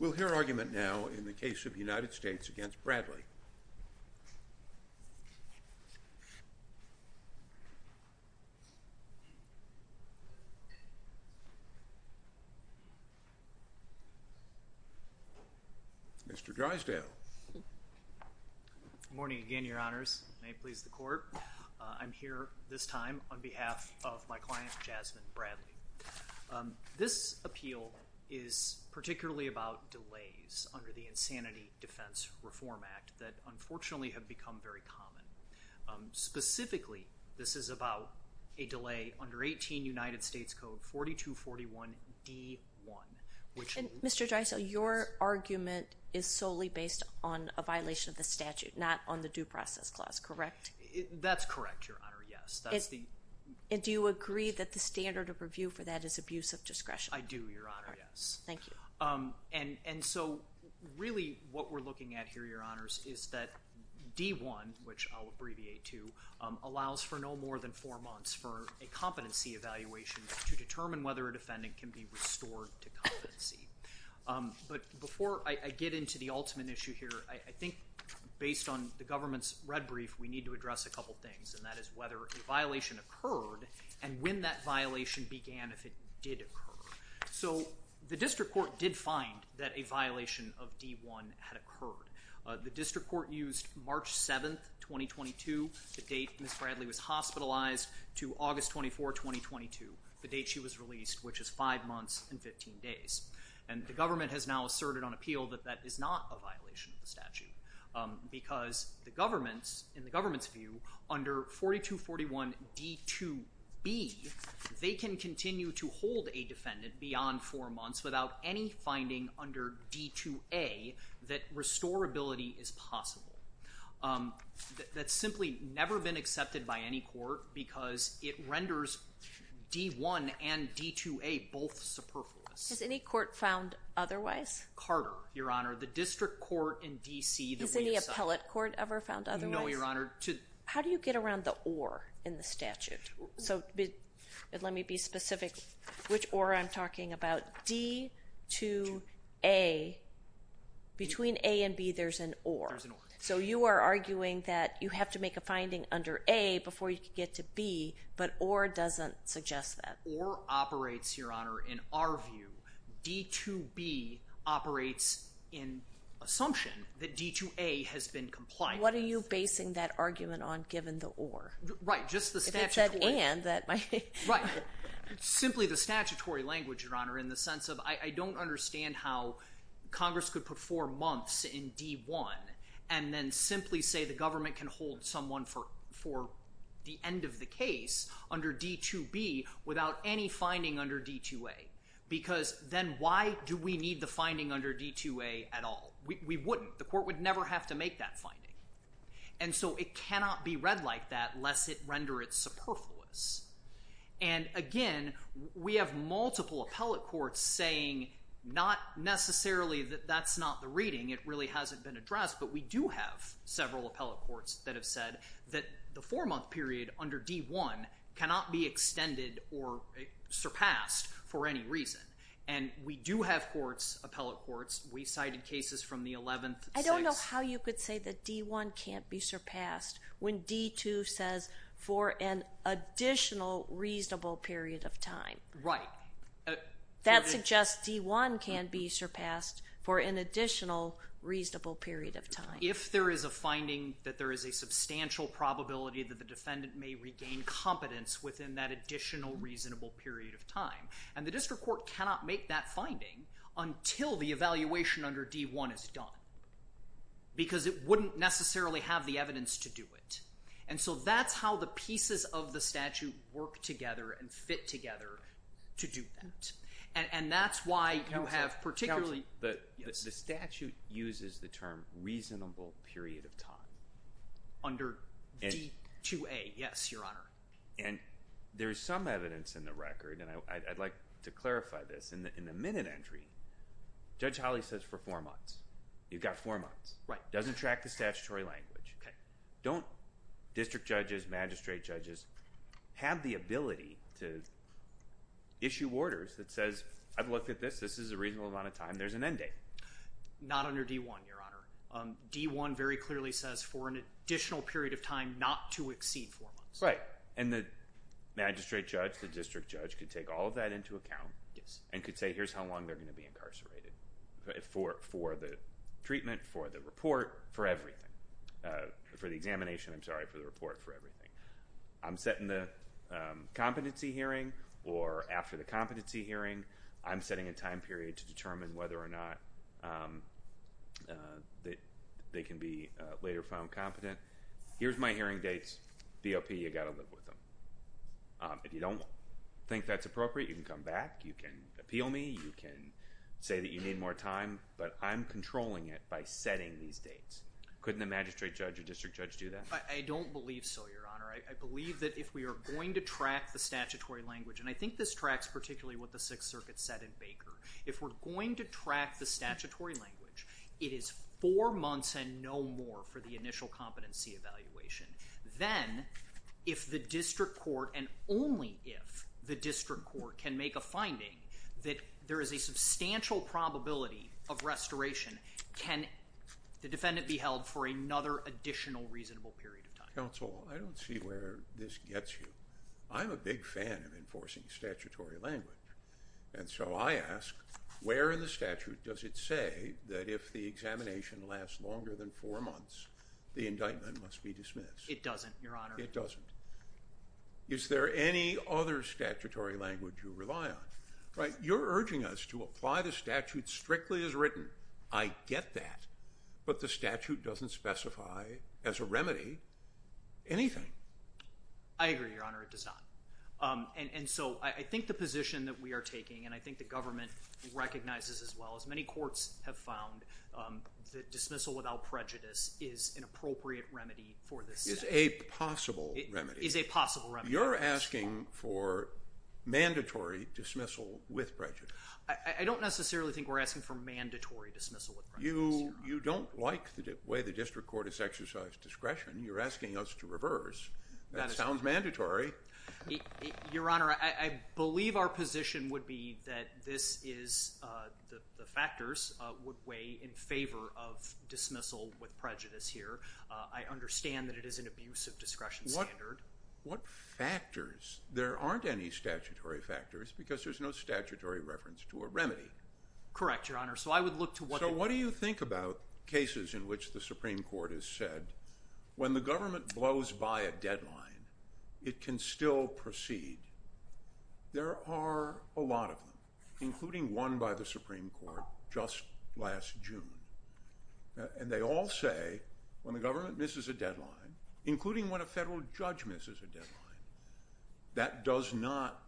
We'll hear argument now in the case of the United States v. Bradley. Mr. Drysdale. Good morning again, Your Honors. May it please the Court. I'm here this time on behalf of my client, Jasmine Bradley. This appeal is particularly about delays under the Insanity Defense Reform Act that, unfortunately, have become very common. Specifically, this is about a delay under 18 United States Code 4241-D-1. Mr. Drysdale, your argument is solely based on a violation of the statute, not on the Due Process Clause, correct? That's correct, Your Honor, yes. And do you agree that the standard of review for that is abuse of discretion? I do, Your Honor, yes. Thank you. And so, really, what we're looking at here, Your Honors, is that D-1, which I'll abbreviate to, allows for no more than four months for a competency evaluation to determine whether a defendant can be restored to competency. But before I get into the ultimate issue here, I think, based on the government's red brief, we need to address a couple things, and that is whether a violation occurred and when that violation began, if it did occur. So the district court did find that a violation of D-1 had occurred. The district court used March 7, 2022, the date Ms. Bradley was hospitalized, to August 24, 2022, the date she was released, which is five months and 15 days. And the government has now asserted on appeal that that is not a violation of the statute because the government, in the government's view, under 4241 D-2B, they can continue to hold a defendant beyond four months without any finding under D-2A that restorability is possible. That's simply never been accepted by any court because it renders D-1 and D-2A both superfluous. Has any court found otherwise? Carter, Your Honor, the district court in D.C. Has any appellate court ever found otherwise? No, Your Honor. How do you get around the or in the statute? So let me be specific which or I'm talking about. D-2A, between A and B, there's an or. There's an or. So you are arguing that you have to make a finding under A before you can get to B, but or doesn't suggest that. Or operates, Your Honor, in our view. D-2B operates in assumption that D-2A has been compliant. What are you basing that argument on given the or? Right, just the statutory. If it said and, that might be. Simply the statutory language, Your Honor, in the sense of I don't understand how Congress could put four months in D-1 and then simply say the government can hold someone for the end of the case under D-2B without any finding under D-2A. Because then why do we need the finding under D-2A at all? We wouldn't. The court would never have to make that finding. And so it cannot be read like that lest it render it superfluous. And again, we have multiple appellate courts saying not necessarily that that's not the reading. It really hasn't been addressed. But we do have several appellate courts that have said that the four-month period under D-1 cannot be extended or surpassed for any reason. And we do have courts, appellate courts, we cited cases from the 11th. I don't know how you could say that D-1 can't be surpassed when D-2 says for an additional reasonable period of time. Right. That suggests D-1 can be surpassed for an additional reasonable period of time. If there is a finding that there is a substantial probability that the defendant may regain competence within that additional reasonable period of time. And the district court cannot make that finding until the evaluation under D-1 is done. Because it wouldn't necessarily have the evidence to do it. And so that's how the pieces of the statute work together and fit together to do that. And that's why you have particularly… Counselor, the statute uses the term reasonable period of time. Under D-2A. Yes, Your Honor. And there is some evidence in the record, and I'd like to clarify this. In the minute entry, Judge Holly says for four months. You've got four months. Right. Doesn't track the statutory language. Okay. Don't district judges, magistrate judges have the ability to issue orders that says I've looked at this. This is a reasonable amount of time. There's an end date. Not under D-1, Your Honor. D-1 very clearly says for an additional period of time not to exceed four months. Right. And the magistrate judge, the district judge could take all of that into account. Yes. And could say here's how long they're going to be incarcerated for the treatment, for the report, for everything. For the examination, I'm sorry, for the report, for everything. I'm setting the competency hearing or after the competency hearing. I'm setting a time period to determine whether or not they can be later found competent. Here's my hearing dates. BOP, you've got to live with them. If you don't think that's appropriate, you can come back. You can appeal me. You can say that you need more time. But I'm controlling it by setting these dates. Couldn't the magistrate judge or district judge do that? I don't believe so, Your Honor. I believe that if we are going to track the statutory language, and I think this tracks particularly what the Sixth Circuit said in Baker. If we're going to track the statutory language, it is four months and no more for the initial competency evaluation. Then, if the district court and only if the district court can make a finding that there is a substantial probability of restoration, can the defendant be held for another additional reasonable period of time? Counsel, I don't see where this gets you. I'm a big fan of enforcing statutory language. And so I ask, where in the statute does it say that if the examination lasts longer than four months, the indictment must be dismissed? It doesn't, Your Honor. It doesn't. Is there any other statutory language you rely on? You're urging us to apply the statute strictly as written. I get that. But the statute doesn't specify as a remedy anything. I agree, Your Honor. It does not. And so I think the position that we are taking, and I think the government recognizes as well, as many courts have found, that dismissal without prejudice is an appropriate remedy for this statute. Is a possible remedy. Is a possible remedy. You're asking for mandatory dismissal with prejudice. I don't necessarily think we're asking for mandatory dismissal with prejudice, Your Honor. You don't like the way the district court has exercised discretion. You're asking us to reverse. That sounds mandatory. Your Honor, I believe our position would be that this is the factors would weigh in favor of dismissal with prejudice here. I understand that it is an abusive discretion standard. But what factors? There aren't any statutory factors because there's no statutory reference to a remedy. Correct, Your Honor. So I would look to what the – So what do you think about cases in which the Supreme Court has said, when the government blows by a deadline, it can still proceed? There are a lot of them, including one by the Supreme Court just last June. And they all say when the government misses a deadline, including when a federal judge misses a deadline, that does not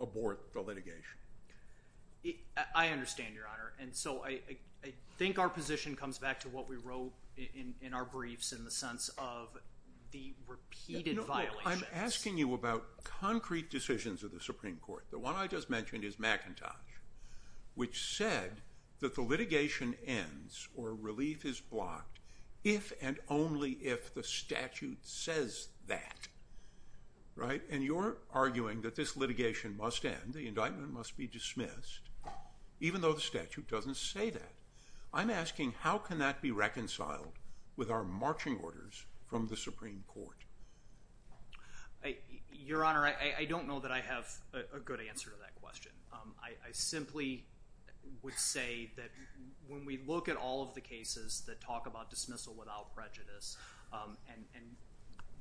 abort the litigation. I understand, Your Honor. And so I think our position comes back to what we wrote in our briefs in the sense of the repeated violations. I'm asking you about concrete decisions of the Supreme Court. The one I just mentioned is McIntosh, which said that the litigation ends or relief is blocked if and only if the statute says that. Right? And you're arguing that this litigation must end, the indictment must be dismissed, even though the statute doesn't say that. I'm asking how can that be reconciled with our marching orders from the Supreme Court? Your Honor, I don't know that I have a good answer to that question. I simply would say that when we look at all of the cases that talk about dismissal without prejudice, and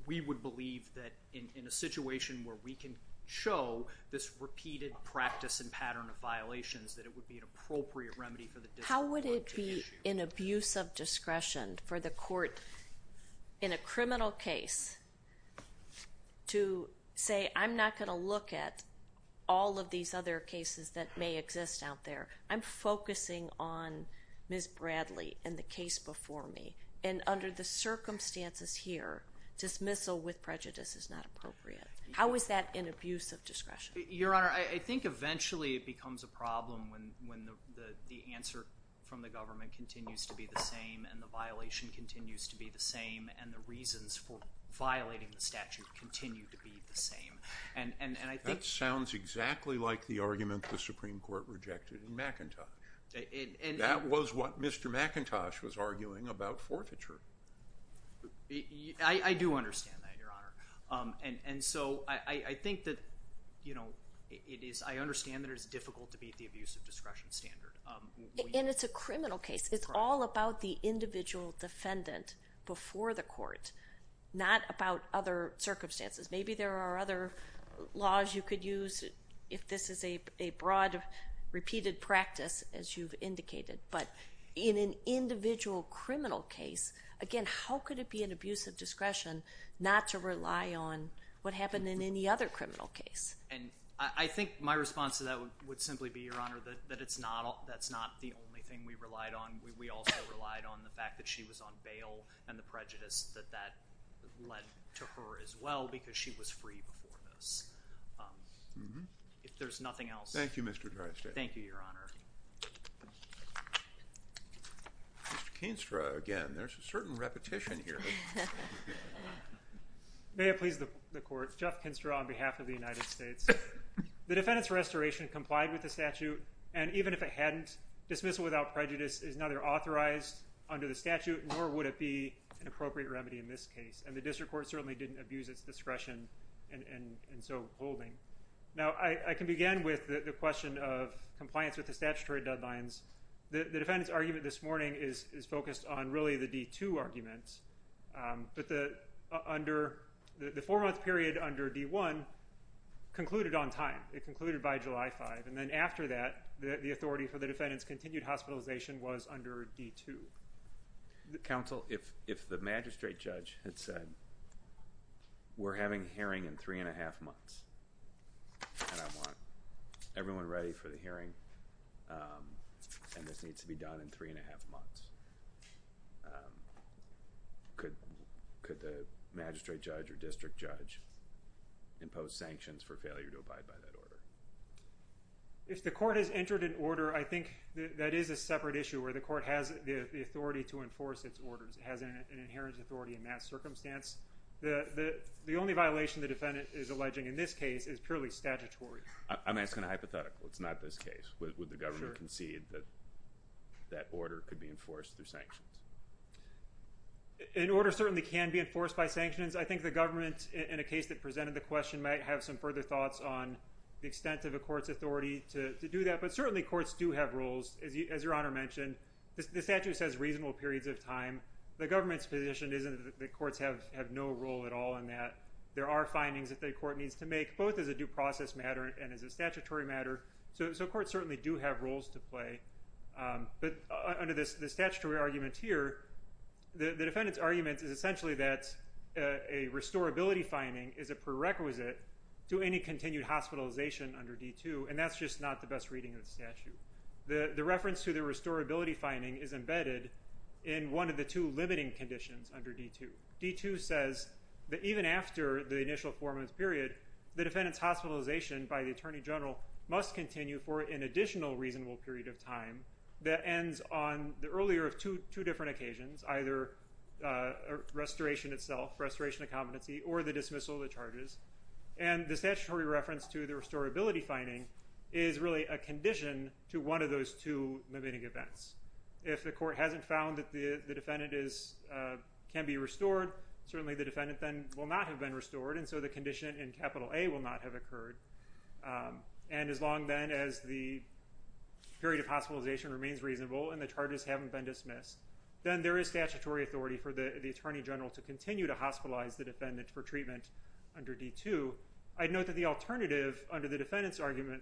we would believe that in a situation where we can show this repeated practice and pattern of violations, that it would be an appropriate remedy for the district court to issue. How is that an abuse of discretion for the court in a criminal case to say, I'm not going to look at all of these other cases that may exist out there. I'm focusing on Ms. Bradley and the case before me. And under the circumstances here, dismissal with prejudice is not appropriate. How is that an abuse of discretion? Your Honor, I think eventually it becomes a problem when the answer from the government continues to be the same and the violation continues to be the same and the reasons for violating the statute continue to be the same. That sounds exactly like the argument the Supreme Court rejected in McIntosh. That was what Mr. McIntosh was arguing about forfeiture. I do understand that, Your Honor. And so I think that, you know, I understand that it is difficult to beat the abuse of discretion standard. And it's a criminal case. It's all about the individual defendant before the court, not about other circumstances. Maybe there are other laws you could use if this is a broad, repeated practice, as you've indicated. But in an individual criminal case, again, how could it be an abuse of discretion not to rely on what happened in any other criminal case? And I think my response to that would simply be, Your Honor, that that's not the only thing we relied on. We also relied on the fact that she was on bail and the prejudice that that led to her as well because she was free before this. If there's nothing else. Thank you, Mr. Dreister. Thank you, Your Honor. Mr. Kinstra again. There's a certain repetition here. May it please the Court. Jeff Kinstra on behalf of the United States. The defendant's restoration complied with the statute. And even if it hadn't, dismissal without prejudice is neither authorized under the statute nor would it be an appropriate remedy in this case. And the district court certainly didn't abuse its discretion in so holding. Now, I can begin with the question of compliance with the statutory deadlines. The defendant's argument this morning is focused on really the D-2 argument. But the four-month period under D-1 concluded on time. It concluded by July 5. And then after that, the authority for the defendant's continued hospitalization was under D-2. Counsel, if the magistrate judge had said we're having a hearing in three and a half months and I want everyone ready for the hearing and this needs to be done in three and a half months, could the magistrate judge or district judge impose sanctions for failure to abide by that order? If the court has entered an order, I think that is a separate issue where the court has the authority to enforce its orders. It has an inherent authority in that circumstance. The only violation the defendant is alleging in this case is purely statutory. I'm asking a hypothetical. It's not this case. Would the government concede that that order could be enforced through sanctions? An order certainly can be enforced by sanctions. I think the government, in a case that presented the question, might have some further thoughts on the extent of a court's authority to do that. But certainly courts do have roles. As Your Honor mentioned, the statute says reasonable periods of time. The government's position isn't that the courts have no role at all in that. There are findings that the court needs to make, both as a due process matter and as a statutory matter. So courts certainly do have roles to play. But under the statutory argument here, the defendant's argument is essentially that a restorability finding is a prerequisite to any continued hospitalization under D-2, and that's just not the best reading of the statute. The reference to the restorability finding is embedded in one of the two limiting conditions under D-2. D-2 says that even after the initial four-month period, the defendant's hospitalization by the Attorney General must continue for an additional reasonable period of time that ends on the earlier of two different occasions, either restoration itself, restoration of competency, or the dismissal of the charges. And the statutory reference to the restorability finding is really a condition to one of those two limiting events. If the court hasn't found that the defendant can be restored, certainly the defendant then will not have been restored, and so the condition in capital A will not have occurred. And as long then as the period of hospitalization remains reasonable and the charges haven't been dismissed, then there is statutory authority for the Attorney General to continue to hospitalize the defendant for treatment under D-2. I'd note that the alternative under the defendant's argument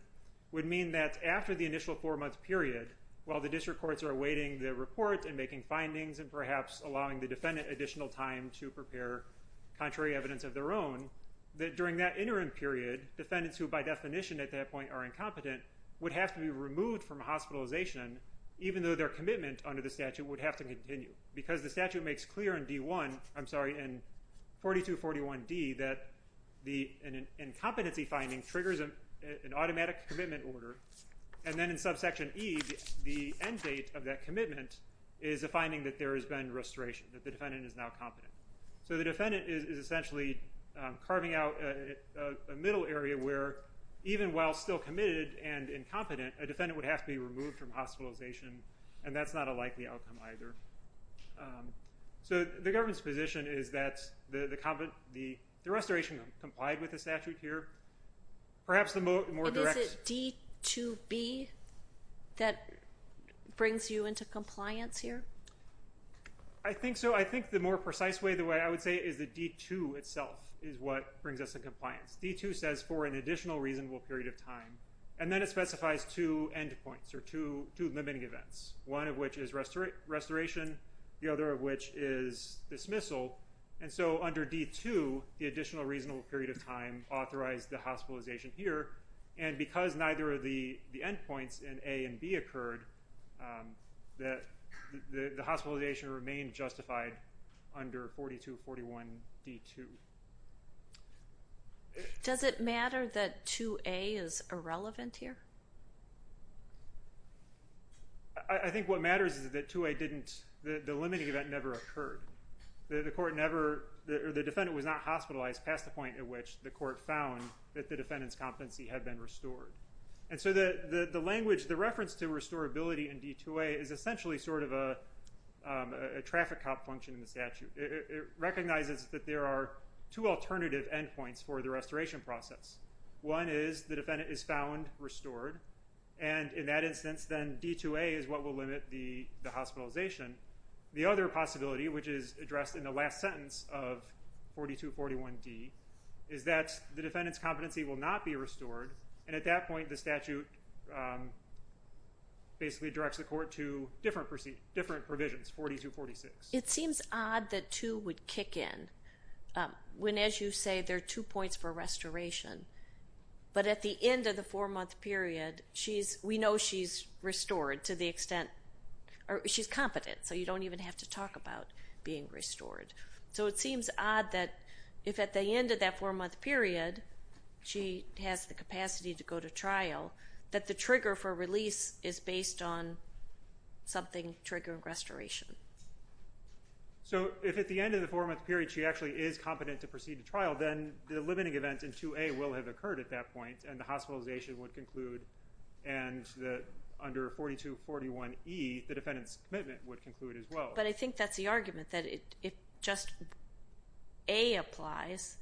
would mean that after the initial four-month period, while the district courts are awaiting the report and making findings and perhaps allowing the defendant additional time to prepare contrary evidence of their own, that during that interim period, defendants who by definition at that point are incompetent would have to be removed from hospitalization, even though their commitment under the statute would have to continue. Because the statute makes clear in D-1, I'm sorry, in 4241D, that an incompetency finding triggers an automatic commitment order, and then in subsection E, the end date of that commitment is a finding that there has been restoration, that the defendant is now competent. So the defendant is essentially carving out a middle area where even while still committed and incompetent, a defendant would have to be removed from hospitalization, and that's not a likely outcome either. So the government's position is that the restoration complied with the statute here. Perhaps the more direct... But is it D-2B that brings you into compliance here? I think so. I think the more precise way, the way I would say, is that D-2 itself is what brings us to compliance. D-2 says for an additional reasonable period of time, and then it specifies two endpoints or two limiting events, one of which is restoration, the other of which is dismissal. And so under D-2, the additional reasonable period of time authorized the hospitalization here, and because neither of the endpoints in A and B occurred, the hospitalization remained justified under 4241D-2. Does it matter that 2A is irrelevant here? I think what matters is that 2A didn't... The limiting event never occurred. The defendant was not hospitalized past the point at which the court found that the defendant's competency had been restored. And so the language, the reference to restorability in D-2A is essentially sort of a traffic cop function in the statute. It recognizes that there are two alternative endpoints for the restoration process. One is the defendant is found restored, and in that instance, then D-2A is what will limit the hospitalization. The other possibility, which is addressed in the last sentence of 4241D, is that the defendant's competency will not be restored. And at that point, the statute basically directs the court to different provisions, 4246. It seems odd that 2 would kick in when, as you say, there are two points for restoration. But at the end of the four-month period, we know she's restored to the extent... She's competent, so you don't even have to talk about being restored. So it seems odd that if at the end of that four-month period she has the capacity to go to trial, that the trigger for release is based on something triggering restoration. So if at the end of the four-month period she actually is competent to proceed to trial, then the limiting event in 2A will have occurred at that point, and the hospitalization would conclude, and under 4241E, the defendant's commitment would conclude as well. But I think that's the argument, that if just A applies,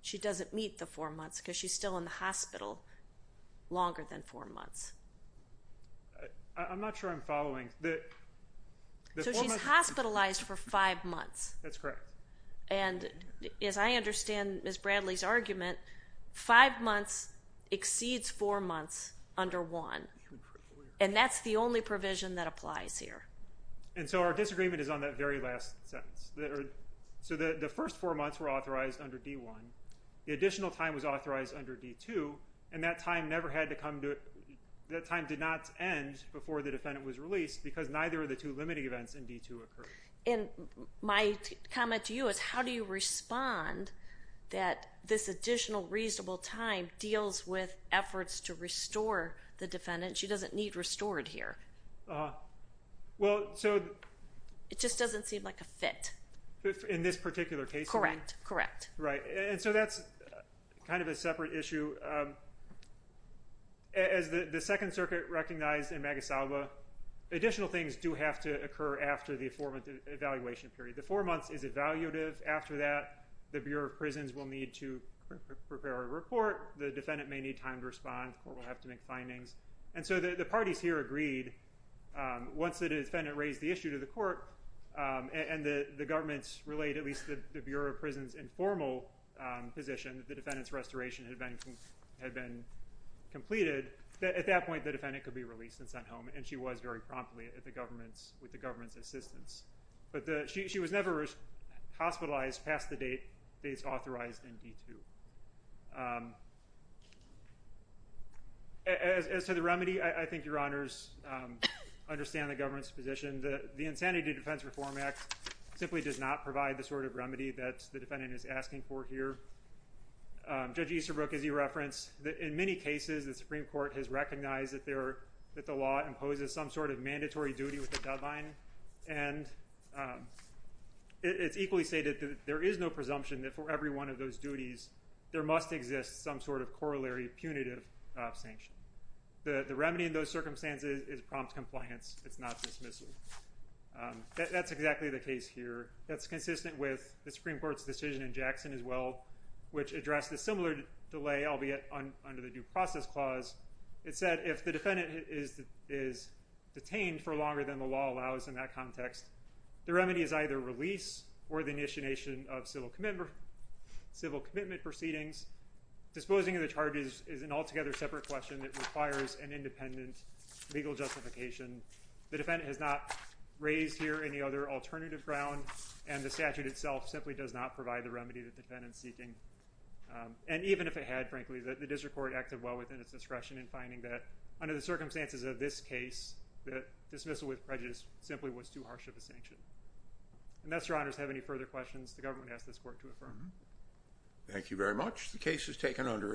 she doesn't meet the four months because she's still in the hospital longer than four months. I'm not sure I'm following. So she's hospitalized for five months. That's correct. And as I understand Ms. Bradley's argument, five months exceeds four months under 1. And that's the only provision that applies here. And so our disagreement is on that very last sentence. So the first four months were authorized under D1. The additional time was authorized under D2. And that time did not end before the defendant was released because neither of the two limiting events in D2 occurred. And my comment to you is how do you respond that this additional reasonable time deals with efforts to restore the defendant? She doesn't need restored here. It just doesn't seem like a fit. In this particular case? Correct, correct. Right, and so that's kind of a separate issue. As the Second Circuit recognized in Magus Alba, additional things do have to occur after the affirmative evaluation period. The four months is evaluative. After that, the Bureau of Prisons will need to prepare a report. The defendant may need time to respond. The court will have to make findings. And so the parties here agreed once the defendant raised the issue to the court and the government relayed at least the Bureau of Prisons informal position that the defendant's restoration had been completed, that at that point the defendant could be released and sent home. And she was very promptly with the government's assistance. But she was never hospitalized past the dates authorized in D2. As to the remedy, I think Your Honors understand the government's position. The Insanity Defense Reform Act simply does not provide the sort of remedy that the defendant is asking for here. Judge Easterbrook, as you referenced, in many cases the Supreme Court has recognized that the law imposes some sort of mandatory duty with the deadline. And it's equally stated that there is no presumption that for every one of those duties there must exist some sort of corollary punitive sanction. The remedy in those circumstances is prompt compliance. It's not dismissal. That's exactly the case here. That's consistent with the Supreme Court's decision in Jackson as well, which addressed a similar delay, albeit under the Due Process Clause. It said if the defendant is detained for longer than the law allows in that context, the remedy is either release or the initiation of civil commitment proceedings. Disposing of the charges is an altogether separate question. It requires an independent legal justification. The defendant has not raised here any other alternative ground, and the statute itself simply does not provide the remedy the defendant is seeking. And even if it had, frankly, the district court acted well within its discretion in finding that under the circumstances of this case, that dismissal with prejudice simply was too harsh of a sanction. Unless Your Honors have any further questions, the government asks this court to affirm. Thank you very much. The case is taken under advisement.